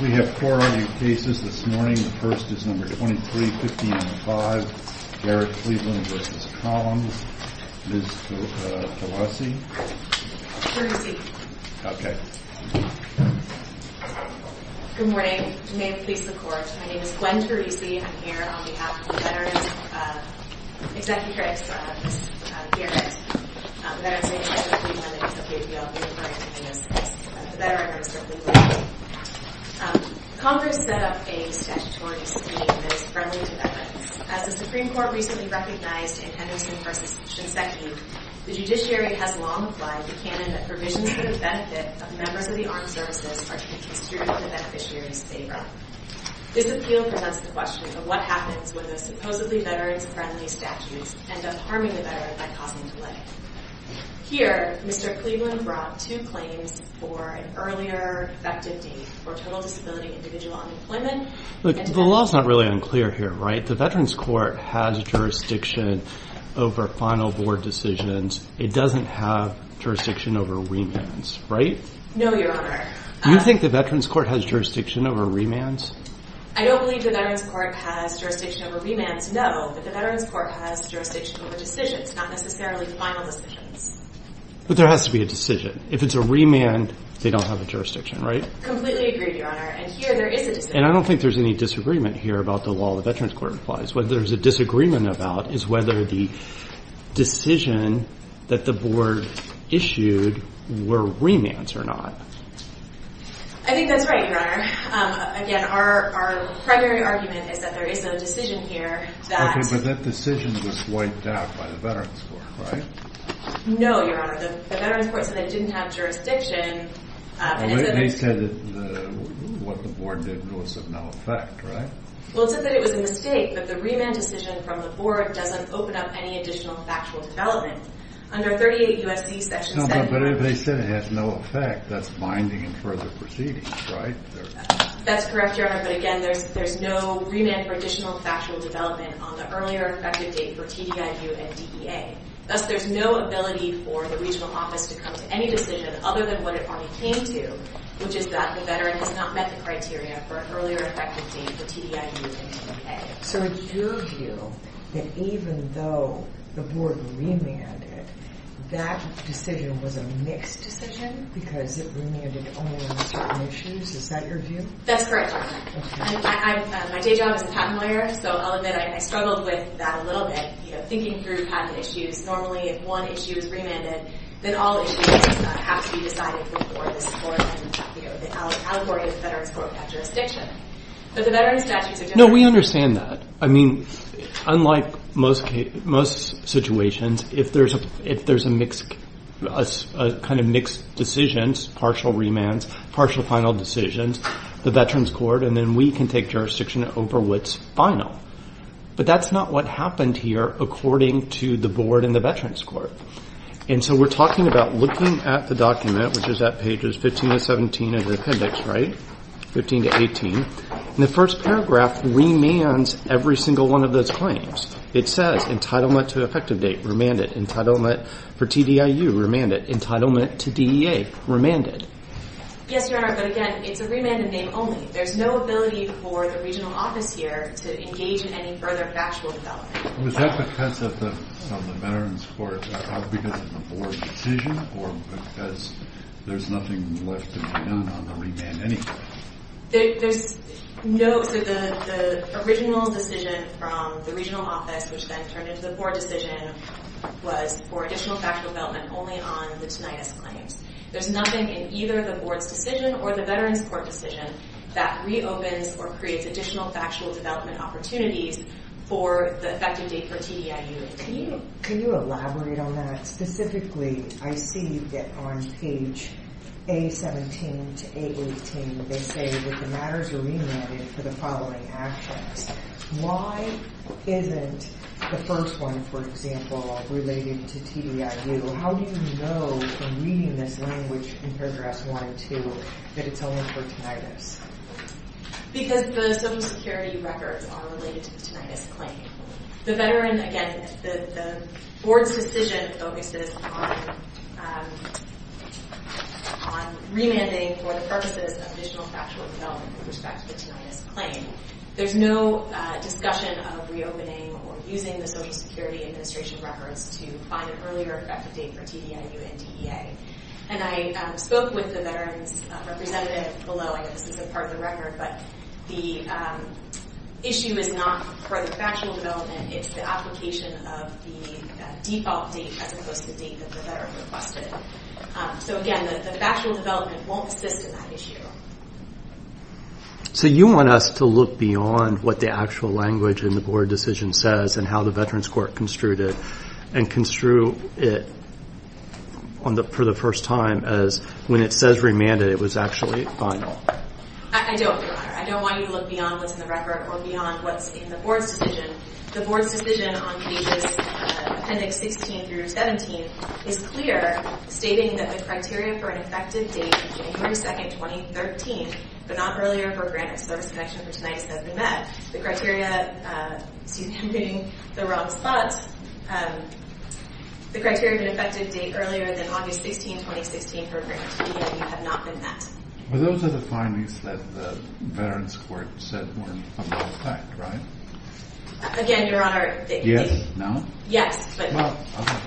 We have four argued cases this morning. The first is number 23-15-05, Garrett-Cleveland v. Collins. Ms. Tolesi? Good morning. May it please the Court, my name is Gwen Tolesi. I'm here on behalf of the Veterans... ...executives of Garrett, Veterans Agency of Cleveland and the KPLB. The Veterans are certainly glad to be here. Congress set up a statutory scheme that is friendly to veterans. As the Supreme Court recently recognized in Henderson v. Shinseki, the judiciary has long applied the canon that provisions for the benefit of members of the armed services are to be construed in the beneficiary's favor. This appeal presents the question of what happens when the supposedly veterans-friendly statutes end up harming the veteran by causing delay. Here, Mr. Cleveland brought two claims for an earlier effective date for total disability individual unemployment... The law is not really unclear here, right? The Veterans Court has jurisdiction over final board decisions. It doesn't have jurisdiction over remands, right? No, Your Honor. Do you think the Veterans Court has jurisdiction over remands? I don't believe the Veterans Court has jurisdiction over remands, no. But the Veterans Court has jurisdiction over decisions, not necessarily final decisions. But there has to be a decision. If it's a remand, they don't have a jurisdiction, right? Completely agreed, Your Honor. And here, there is a decision. And I don't think there's any disagreement here about the law the Veterans Court applies. What there's a disagreement about is whether the decision that the board issued were remands or not. I think that's right, Your Honor. Again, our primary argument is that there is no decision here that... Okay, but that decision was wiped out by the Veterans Court, right? No, Your Honor. The Veterans Court said it didn't have jurisdiction. They said that what the board did was of no effect, right? Well, it said that it was a mistake, that the remand decision from the board doesn't open up any additional factual development. Under 38 U.S.C. section 7... No, but if they said it has no effect, that's binding in further proceedings, right? That's correct, Your Honor. But again, there's no remand for additional factual development on the earlier effective date for TDIU and DEA. Thus, there's no ability for the regional office to come to any decision other than what it already came to, which is that the veteran has not met the criteria for an earlier effective date for TDIU and DEA. So it's your view that even though the board remanded, that decision was a mixed decision because it remanded only on certain issues? Is that your view? That's correct, Your Honor. My day job is a patent lawyer, so I'll admit I struggled with that a little bit. Normally, if one issue is remanded, then all issues have to be decided before the Allegory Veterans Court jurisdiction. No, we understand that. I mean, unlike most situations, if there's a kind of mixed decisions, partial remands, partial final decisions, the Veterans Court, and then we can take jurisdiction over what's final. But that's not what happened here according to the board and the Veterans Court. And so we're talking about looking at the document, which is at pages 15 to 17 of the appendix, right? 15 to 18. And the first paragraph remands every single one of those claims. It says entitlement to effective date, remanded. Entitlement for TDIU, remanded. Entitlement to DEA, remanded. Yes, Your Honor, but again, it's a remanded name only. There's no ability for the regional office here to engage in any further factual development. Was that because of the Veterans Court, because of the board's decision, or because there's nothing left to be done on the remand anyway? There's no—so the original decision from the regional office, which then turned into the board decision, was for additional factual development only on the tinnitus claims. There's nothing in either the board's decision or the Veterans Court decision that reopens or creates additional factual development opportunities for the effective date for TDIU. Can you elaborate on that? Specifically, I see that on page A17 to A18, they say that the matters are remanded for the following actions. Why isn't the first one, for example, related to TDIU? How do you know from reading this language in paragraph 1 and 2 that it's only for tinnitus? Because the Social Security records are related to the tinnitus claim. The veteran—again, the board's decision focuses on remanding for the purposes of additional factual development with respect to the tinnitus claim. There's no discussion of reopening or using the Social Security Administration records to find an earlier effective date for TDIU and DEA. And I spoke with the veterans representative below. I know this isn't part of the record, but the issue is not for the factual development. It's the application of the default date as opposed to the date that the veteran requested. So, again, the factual development won't assist in that issue. So you want us to look beyond what the actual language in the board decision says and how the veterans court construed it and construe it for the first time as when it says remanded, it was actually final. I don't, Your Honor. I don't want you to look beyond what's in the record or beyond what's in the board's decision. The board's decision on pages appendix 16 through 17 is clear, stating that the criteria for an effective date is January 2, 2013, but not earlier for a granted service connection for tinnitus that has been met. The criteria—excuse me, I'm getting the wrong spots. The criteria of an effective date earlier than August 16, 2016 for a granted TDIU have not been met. Well, those are the findings that the veterans court said were a null fact, right? Again, Your Honor— Yes. No? Yes, but— Well,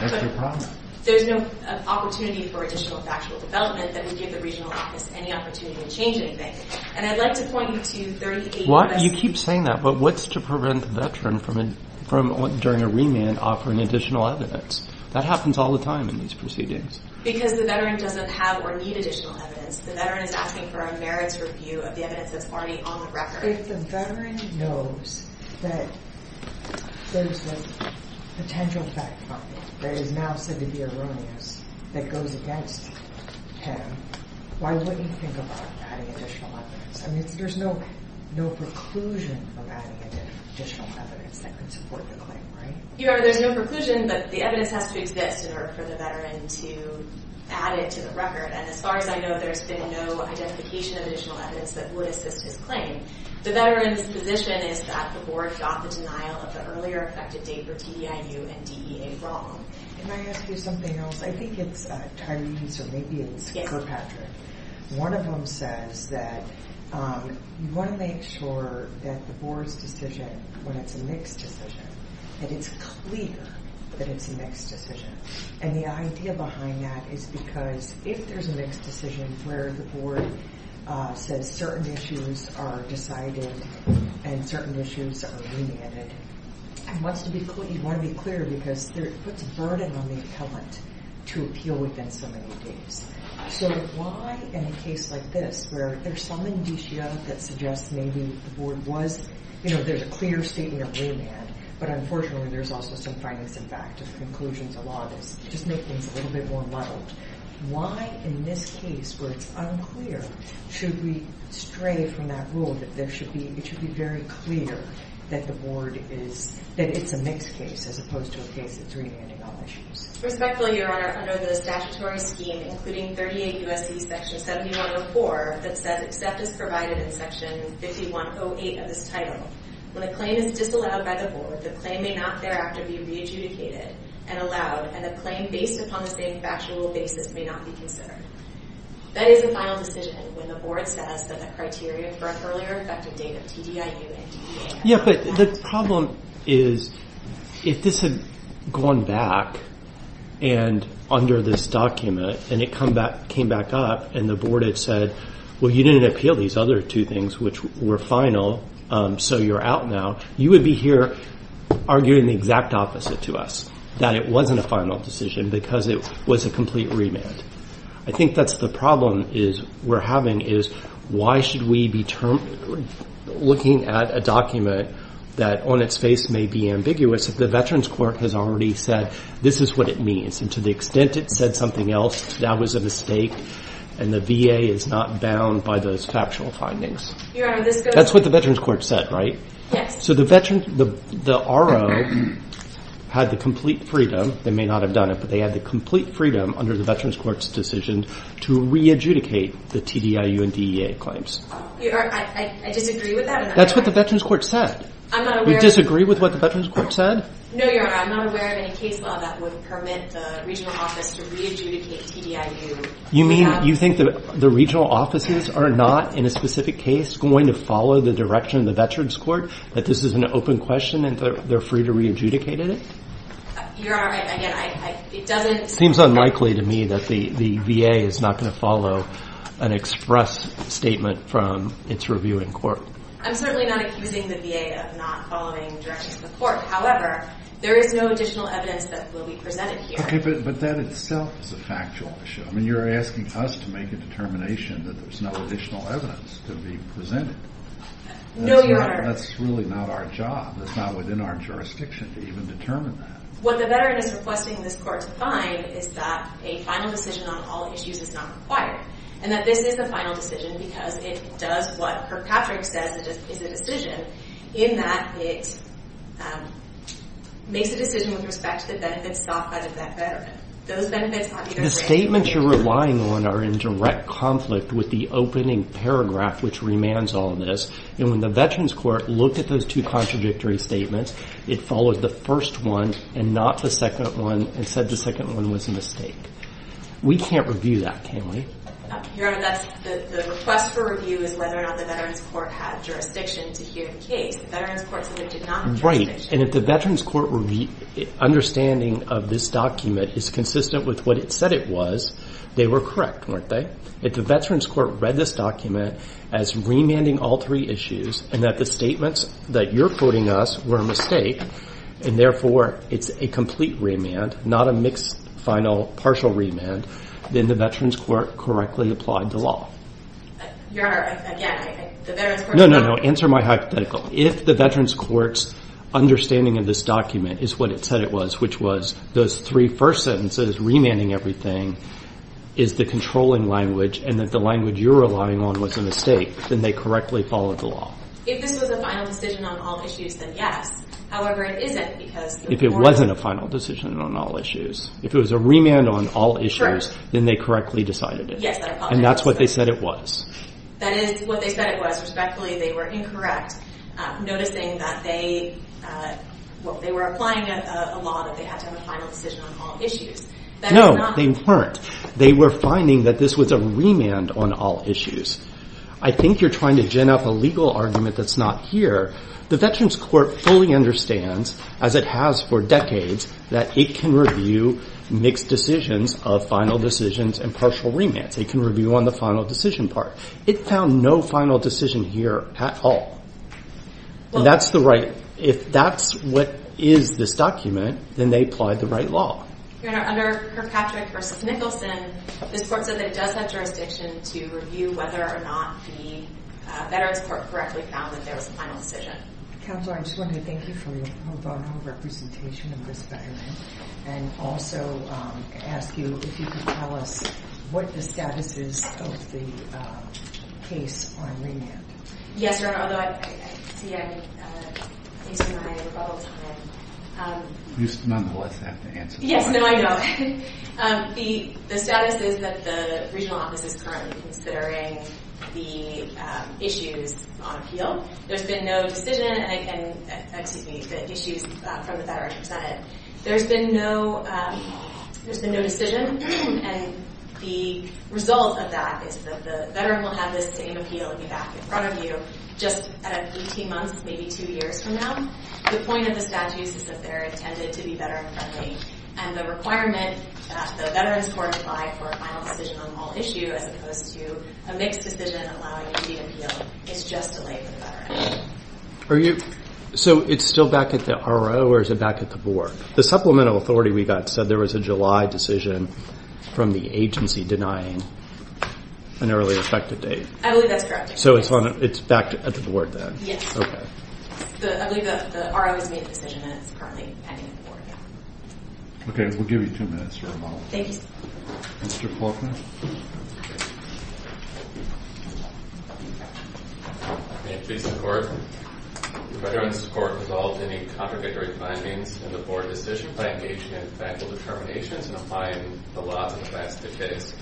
that's your problem. There's no opportunity for additional factual development that would give the regional office any opportunity to change anything. And I'd like to point you to— Well, you keep saying that, but what's to prevent the veteran from, during a remand, offering additional evidence? That happens all the time in these proceedings. Because the veteran doesn't have or need additional evidence. The veteran is asking for a merits review of the evidence that's already on the record. If the veteran knows that there's a potential fact-finding that is now said to be erroneous that goes against him, why wouldn't he think about adding additional evidence? I mean, there's no preclusion from adding additional evidence that could support the claim, right? Your Honor, there's no preclusion, but the evidence has to exist in order for the veteran to add it to the record. And as far as I know, there's been no identification of additional evidence that would assist his claim. The veteran's position is that the board got the denial of the earlier affected date for DEIU and DEA wrong. Can I ask you something else? I think it's Tyreen's or maybe it's Kirkpatrick. One of them says that you want to make sure that the board's decision, when it's a mixed decision, that it's clear that it's a mixed decision. And the idea behind that is because if there's a mixed decision where the board says certain issues are decided and certain issues are remanded, it wants to be clear, you want to be clear because it puts a burden on the appellant to appeal within so many dates. So why in a case like this where there's some indicia that suggests maybe the board was, you know, there's a clear statement of remand, but unfortunately there's also some findings in fact of conclusions of law that just make things a little bit more muddled. Why in this case where it's unclear should we stray from that rule that there should be, it should be very clear that the board is, that it's a mixed case as opposed to a case that's remanding all issues? Respectfully, Your Honor, under the statutory scheme including 38 U.S.C. section 7104 that says except as provided in section 5108 of this title, when a claim is disallowed by the board, the claim may not thereafter be re-adjudicated and allowed, and the claim based upon the same factual basis may not be considered. That is the final decision when the board says that the criteria for an earlier effective date of TDIU and TDA are not met. Yeah, but the problem is if this had gone back and under this document and it came back up and the board had said, well, you didn't appeal these other two things which were final, so you're out now, you would be here arguing the exact opposite to us, that it wasn't a final decision because it was a complete remand. I think that's the problem we're having is why should we be looking at a document that on its face may be ambiguous if the Veterans Court has already said this is what it means, and to the extent it said something else, that was a mistake, and the VA is not bound by those factual findings. Your Honor, this goes to… That's what the Veterans Court said, right? Yes. So the RO had the complete freedom, they may not have done it, but they had the complete freedom under the Veterans Court's decision to re-adjudicate the TDIU and DEA claims. Your Honor, I disagree with that. That's what the Veterans Court said. I'm not aware… You disagree with what the Veterans Court said? No, Your Honor, I'm not aware of any case law that would permit the regional office to re-adjudicate TDIU. You mean you think the regional offices are not in a specific case going to follow the direction of the Veterans Court, that this is an open question and they're free to re-adjudicate it? Your Honor, again, it doesn't… It seems unlikely to me that the VA is not going to follow an express statement from its review in court. I'm certainly not accusing the VA of not following directions of the court. However, there is no additional evidence that will be presented here. Okay, but that itself is a factual issue. I mean, you're asking us to make a determination that there's no additional evidence to be presented. No, Your Honor. That's really not our job. That's not within our jurisdiction to even determine that. What the veteran is requesting this court to find is that a final decision on all issues is not required and that this is the final decision because it does what Kirkpatrick says it is a decision in that it makes a decision with respect to the benefits soft-fed of that veteran. Those benefits are either… The statements you're relying on are in direct conflict with the opening paragraph which remains on this. And when the veterans court looked at those two contradictory statements, it followed the first one and not the second one and said the second one was a mistake. We can't review that, can we? Your Honor, the request for review is whether or not the veterans court had jurisdiction to hear the case. The veterans court said it did not have jurisdiction. Right. And if the veterans court understanding of this document is consistent with what it said it was, they were correct, weren't they? If the veterans court read this document as remanding all three issues and that the statements that you're quoting us were a mistake and therefore it's a complete remand, not a mixed final partial remand, then the veterans court correctly applied the law. Your Honor, again, the veterans court… No, no, no. Answer my hypothetical. If the veterans court's understanding of this document is what it said it was, which was those three first sentences, remanding everything, is the controlling language and that the language you're relying on was a mistake, then they correctly followed the law. If this was a final decision on all issues, then yes. However, it isn't because… If it wasn't a final decision on all issues. If it was a remand on all issues, then they correctly decided it. Yes. And that's what they said it was. That is what they said it was. Respectfully, they were incorrect, noticing that they were applying a law that they had to have a final decision on all issues. No, they weren't. They were finding that this was a remand on all issues. I think you're trying to gin up a legal argument that's not here. The veterans court fully understands, as it has for decades, that it can review mixed decisions of final decisions and partial remands. It can review on the final decision part. It found no final decision here at all. And that's the right… If that's what is this document, then they applied the right law. Your Honor, under Kirkpatrick v. Nicholson, this court said that it does have jurisdiction to review whether or not the veterans court correctly found that there was a final decision. Counselor, I just wanted to thank you for your profound representation of this veteran and also ask you if you could tell us what the status is of the case on remand. Yes, Your Honor. Although, I see I'm wasting my rebuttal time. You nonetheless have to answer the question. Yes, no, I don't. The status is that the regional office is currently considering the issues on appeal. There's been no decision… Excuse me. The issues from the Veterans' Senate. There's been no decision, and the result of that is that the veteran will have the same appeal back in front of you just 18 months, maybe two years from now. The point of the status is that they're intended to be veteran-friendly, and the requirement that the veterans court apply for a final decision on all issues as opposed to a mixed decision allowing you to appeal is just delayed for the veteran. So it's still back at the R.O., or is it back at the board? The supplemental authority we got said there was a July decision from the agency denying an early effective date. I believe that's correct. So it's back at the board then? Yes. Okay. I believe the R.O. has made a decision, and it's currently pending at the board. Okay, we'll give you two minutes, Your Honor. Thank you, sir. Mr. Faulkner. May it please the Court, the Veterans' Court has all obtained contradictory findings in the board decision by engagement and factual determinations in applying the laws of the past to the case.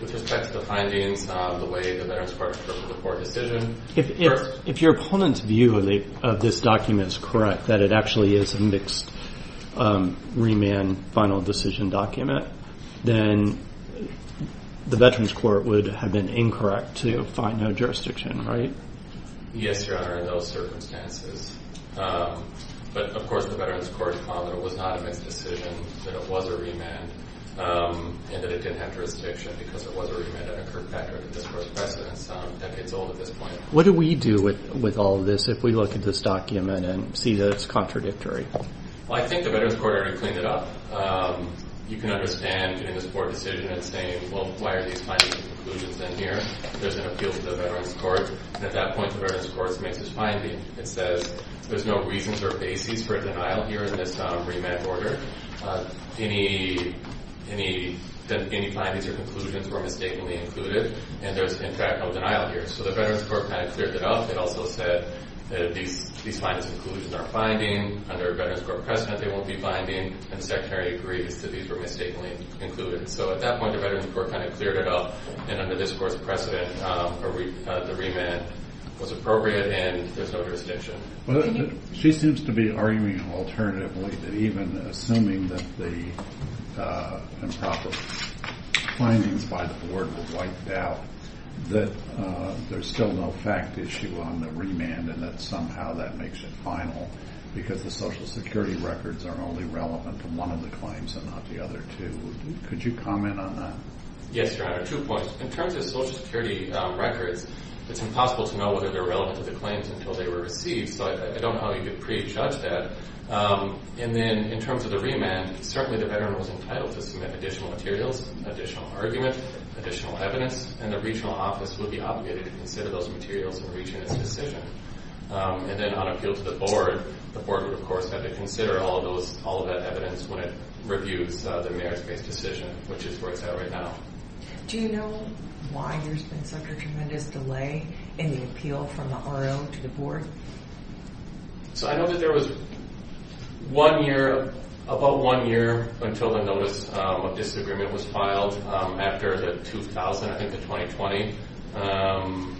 With respect to the findings on the way the Veterans' Court interprets the board decision. If your opponent's view of this document is correct, that it actually is a mixed remand final decision document, then the Veterans' Court would have been incorrect to find no jurisdiction, right? Yes, Your Honor, in those circumstances. But, of course, the Veterans' Court found that it was not a mixed decision, that it was a remand, and that it didn't have jurisdiction because it was a remand that occurred back within this Court's precedence, decades old at this point. What do we do with all of this if we look at this document and see that it's contradictory? Well, I think the Veterans' Court already cleaned it up. You can understand, in this board decision, it's saying, well, why are these findings and conclusions in here? There's an appeal to the Veterans' Court. At that point, the Veterans' Court makes its finding. It says there's no reasons or basis for denial here in this remand order. Any findings or conclusions were mistakenly included, and there's, in fact, no denial here. So the Veterans' Court kind of cleared it up. It also said that if these findings and conclusions are finding, under a Veterans' Court precedent, they won't be binding, and the Secretary agrees that these were mistakenly included. So at that point, the Veterans' Court kind of cleared it up, and under this Court's precedent, the remand was appropriate and there's no jurisdiction. She seems to be arguing alternatively that even assuming that the improper findings by the board were wiped out, that there's still no fact issue on the remand and that somehow that makes it final because the Social Security records are only relevant to one of the claims and not the other two. Could you comment on that? Yes, Your Honor, two points. In terms of Social Security records, it's impossible to know whether they're relevant to the claims until they were received, so I don't know how you could prejudge that. And then in terms of the remand, certainly the veteran was entitled to submit additional materials, additional argument, additional evidence, and the regional office would be obligated to consider those materials in reaching its decision. And then on appeal to the board, the board would, of course, have to consider all of that evidence when it reviews the merits-based decision, which is where it's at right now. Do you know why there's been such a tremendous delay in the appeal from the RO to the board? So I know that there was one year, about one year, until the Notice of Disagreement was filed. After the 2000, I think the 2020,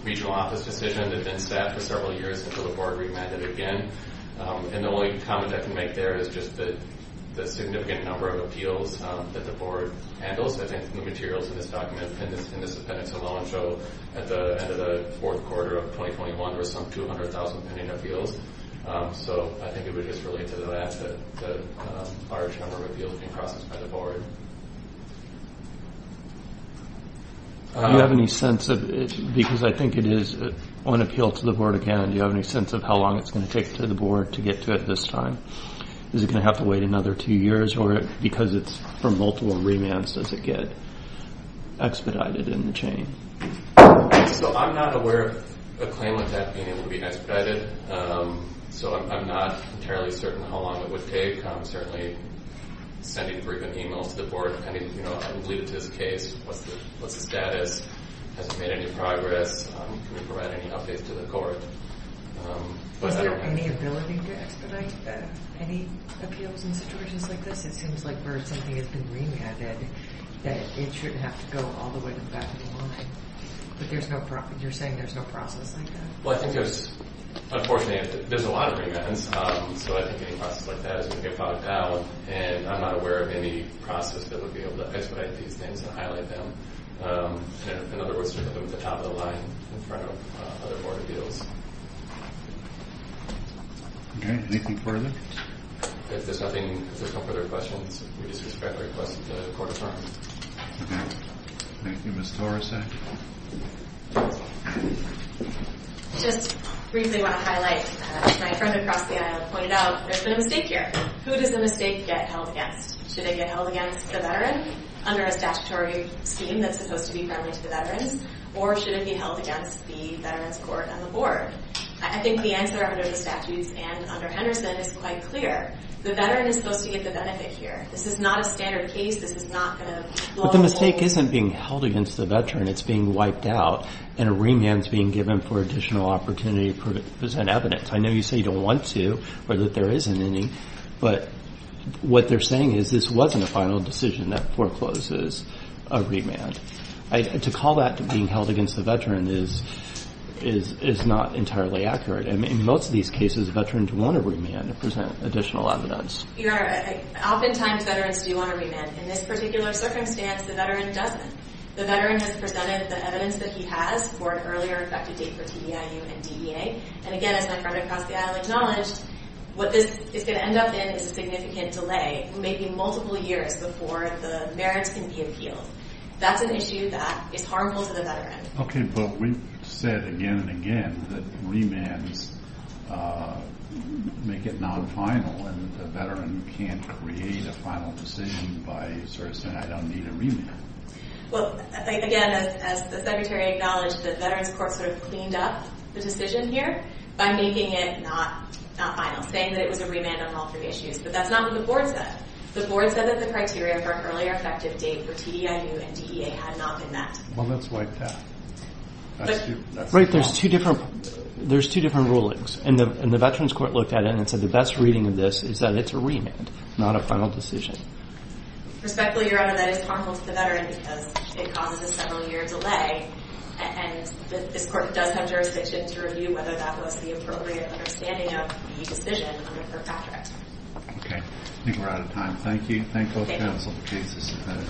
regional office decision had been staffed for several years until the board remanded again. And the only comment I can make there is just the significant number of appeals that the board handles. I think the materials in this document, in this appendix alone, show at the end of the fourth quarter of 2021 there were some 200,000 pending appeals. So I think it would just relate to that, the large number of appeals being processed by the board. Do you have any sense of it? Because I think it is on appeal to the board again. Do you have any sense of how long it's going to take to the board to get to it this time? Is it going to have to wait another two years? Or because it's for multiple remands, does it get expedited in the chain? So I'm not aware of a claim like that being able to be expedited. So I'm not entirely certain how long it would take. I'm certainly sending frequent emails to the board. I mean, you know, I would leave it to this case. What's the status? Has it made any progress? Can we provide any updates to the court? Is there any ability to expedite any appeals in situations like this? It seems like where something has been remanded, that it shouldn't have to go all the way to the back of the line. But you're saying there's no process like that? Well, I think there's, unfortunately, there's a lot of remands. So I think any process like that is going to get bogged down. And I'm not aware of any process that would be able to expedite these things and highlight them. In other words, to put them at the top of the line in front of other board appeals. Okay. Anything further? If there's nothing, if there's no further questions, we disrespectfully request that the court adjourn. Thank you, Ms. Torreson. Just briefly want to highlight. My friend across the aisle pointed out there's been a mistake here. Who does the mistake get held against? Should it get held against the veteran under a statutory scheme that's supposed to be friendly to the veterans? Or should it be held against the veterans court and the board? I think the answer under the statutes and under Henderson is quite clear. The veteran is supposed to get the benefit here. This is not a standard case. This is not going to. But the mistake isn't being held against the veteran. It's being wiped out. And a remand is being given for additional opportunity to present evidence. I know you say you don't want to or that there isn't any. But what they're saying is this wasn't a final decision that forecloses a remand. To call that being held against the veteran is not entirely accurate. In most of these cases, veterans want a remand to present additional evidence. Your Honor, oftentimes veterans do want a remand. In this particular circumstance, the veteran doesn't. The veteran has presented the evidence that he has for an earlier effective date for TEIU and DEA. And, again, as my friend across the aisle acknowledged, what this is going to end up in is a significant delay, maybe multiple years before the merits can be appealed. That's an issue that is harmful to the veteran. Okay, but we've said again and again that remands make it non-final, and the veteran can't create a final decision by sort of saying, I don't need a remand. Well, again, as the Secretary acknowledged, the Veterans Court sort of cleaned up the decision here by making it not final, saying that it was a remand on all three issues. But that's not what the Board said. The Board said that the criteria for an earlier effective date for TEIU and DEA had not been met. Well, let's wipe that. Right, there's two different rulings, and the Veterans Court looked at it and said the best reading of this is that it's a remand, not a final decision. Respectfully, Your Honor, that is harmful to the veteran because it causes a several-year delay, and this Court does have jurisdiction to review whether that was the appropriate understanding of the decision on a per factor. Okay, I think we're out of time. Thank you. Thank you.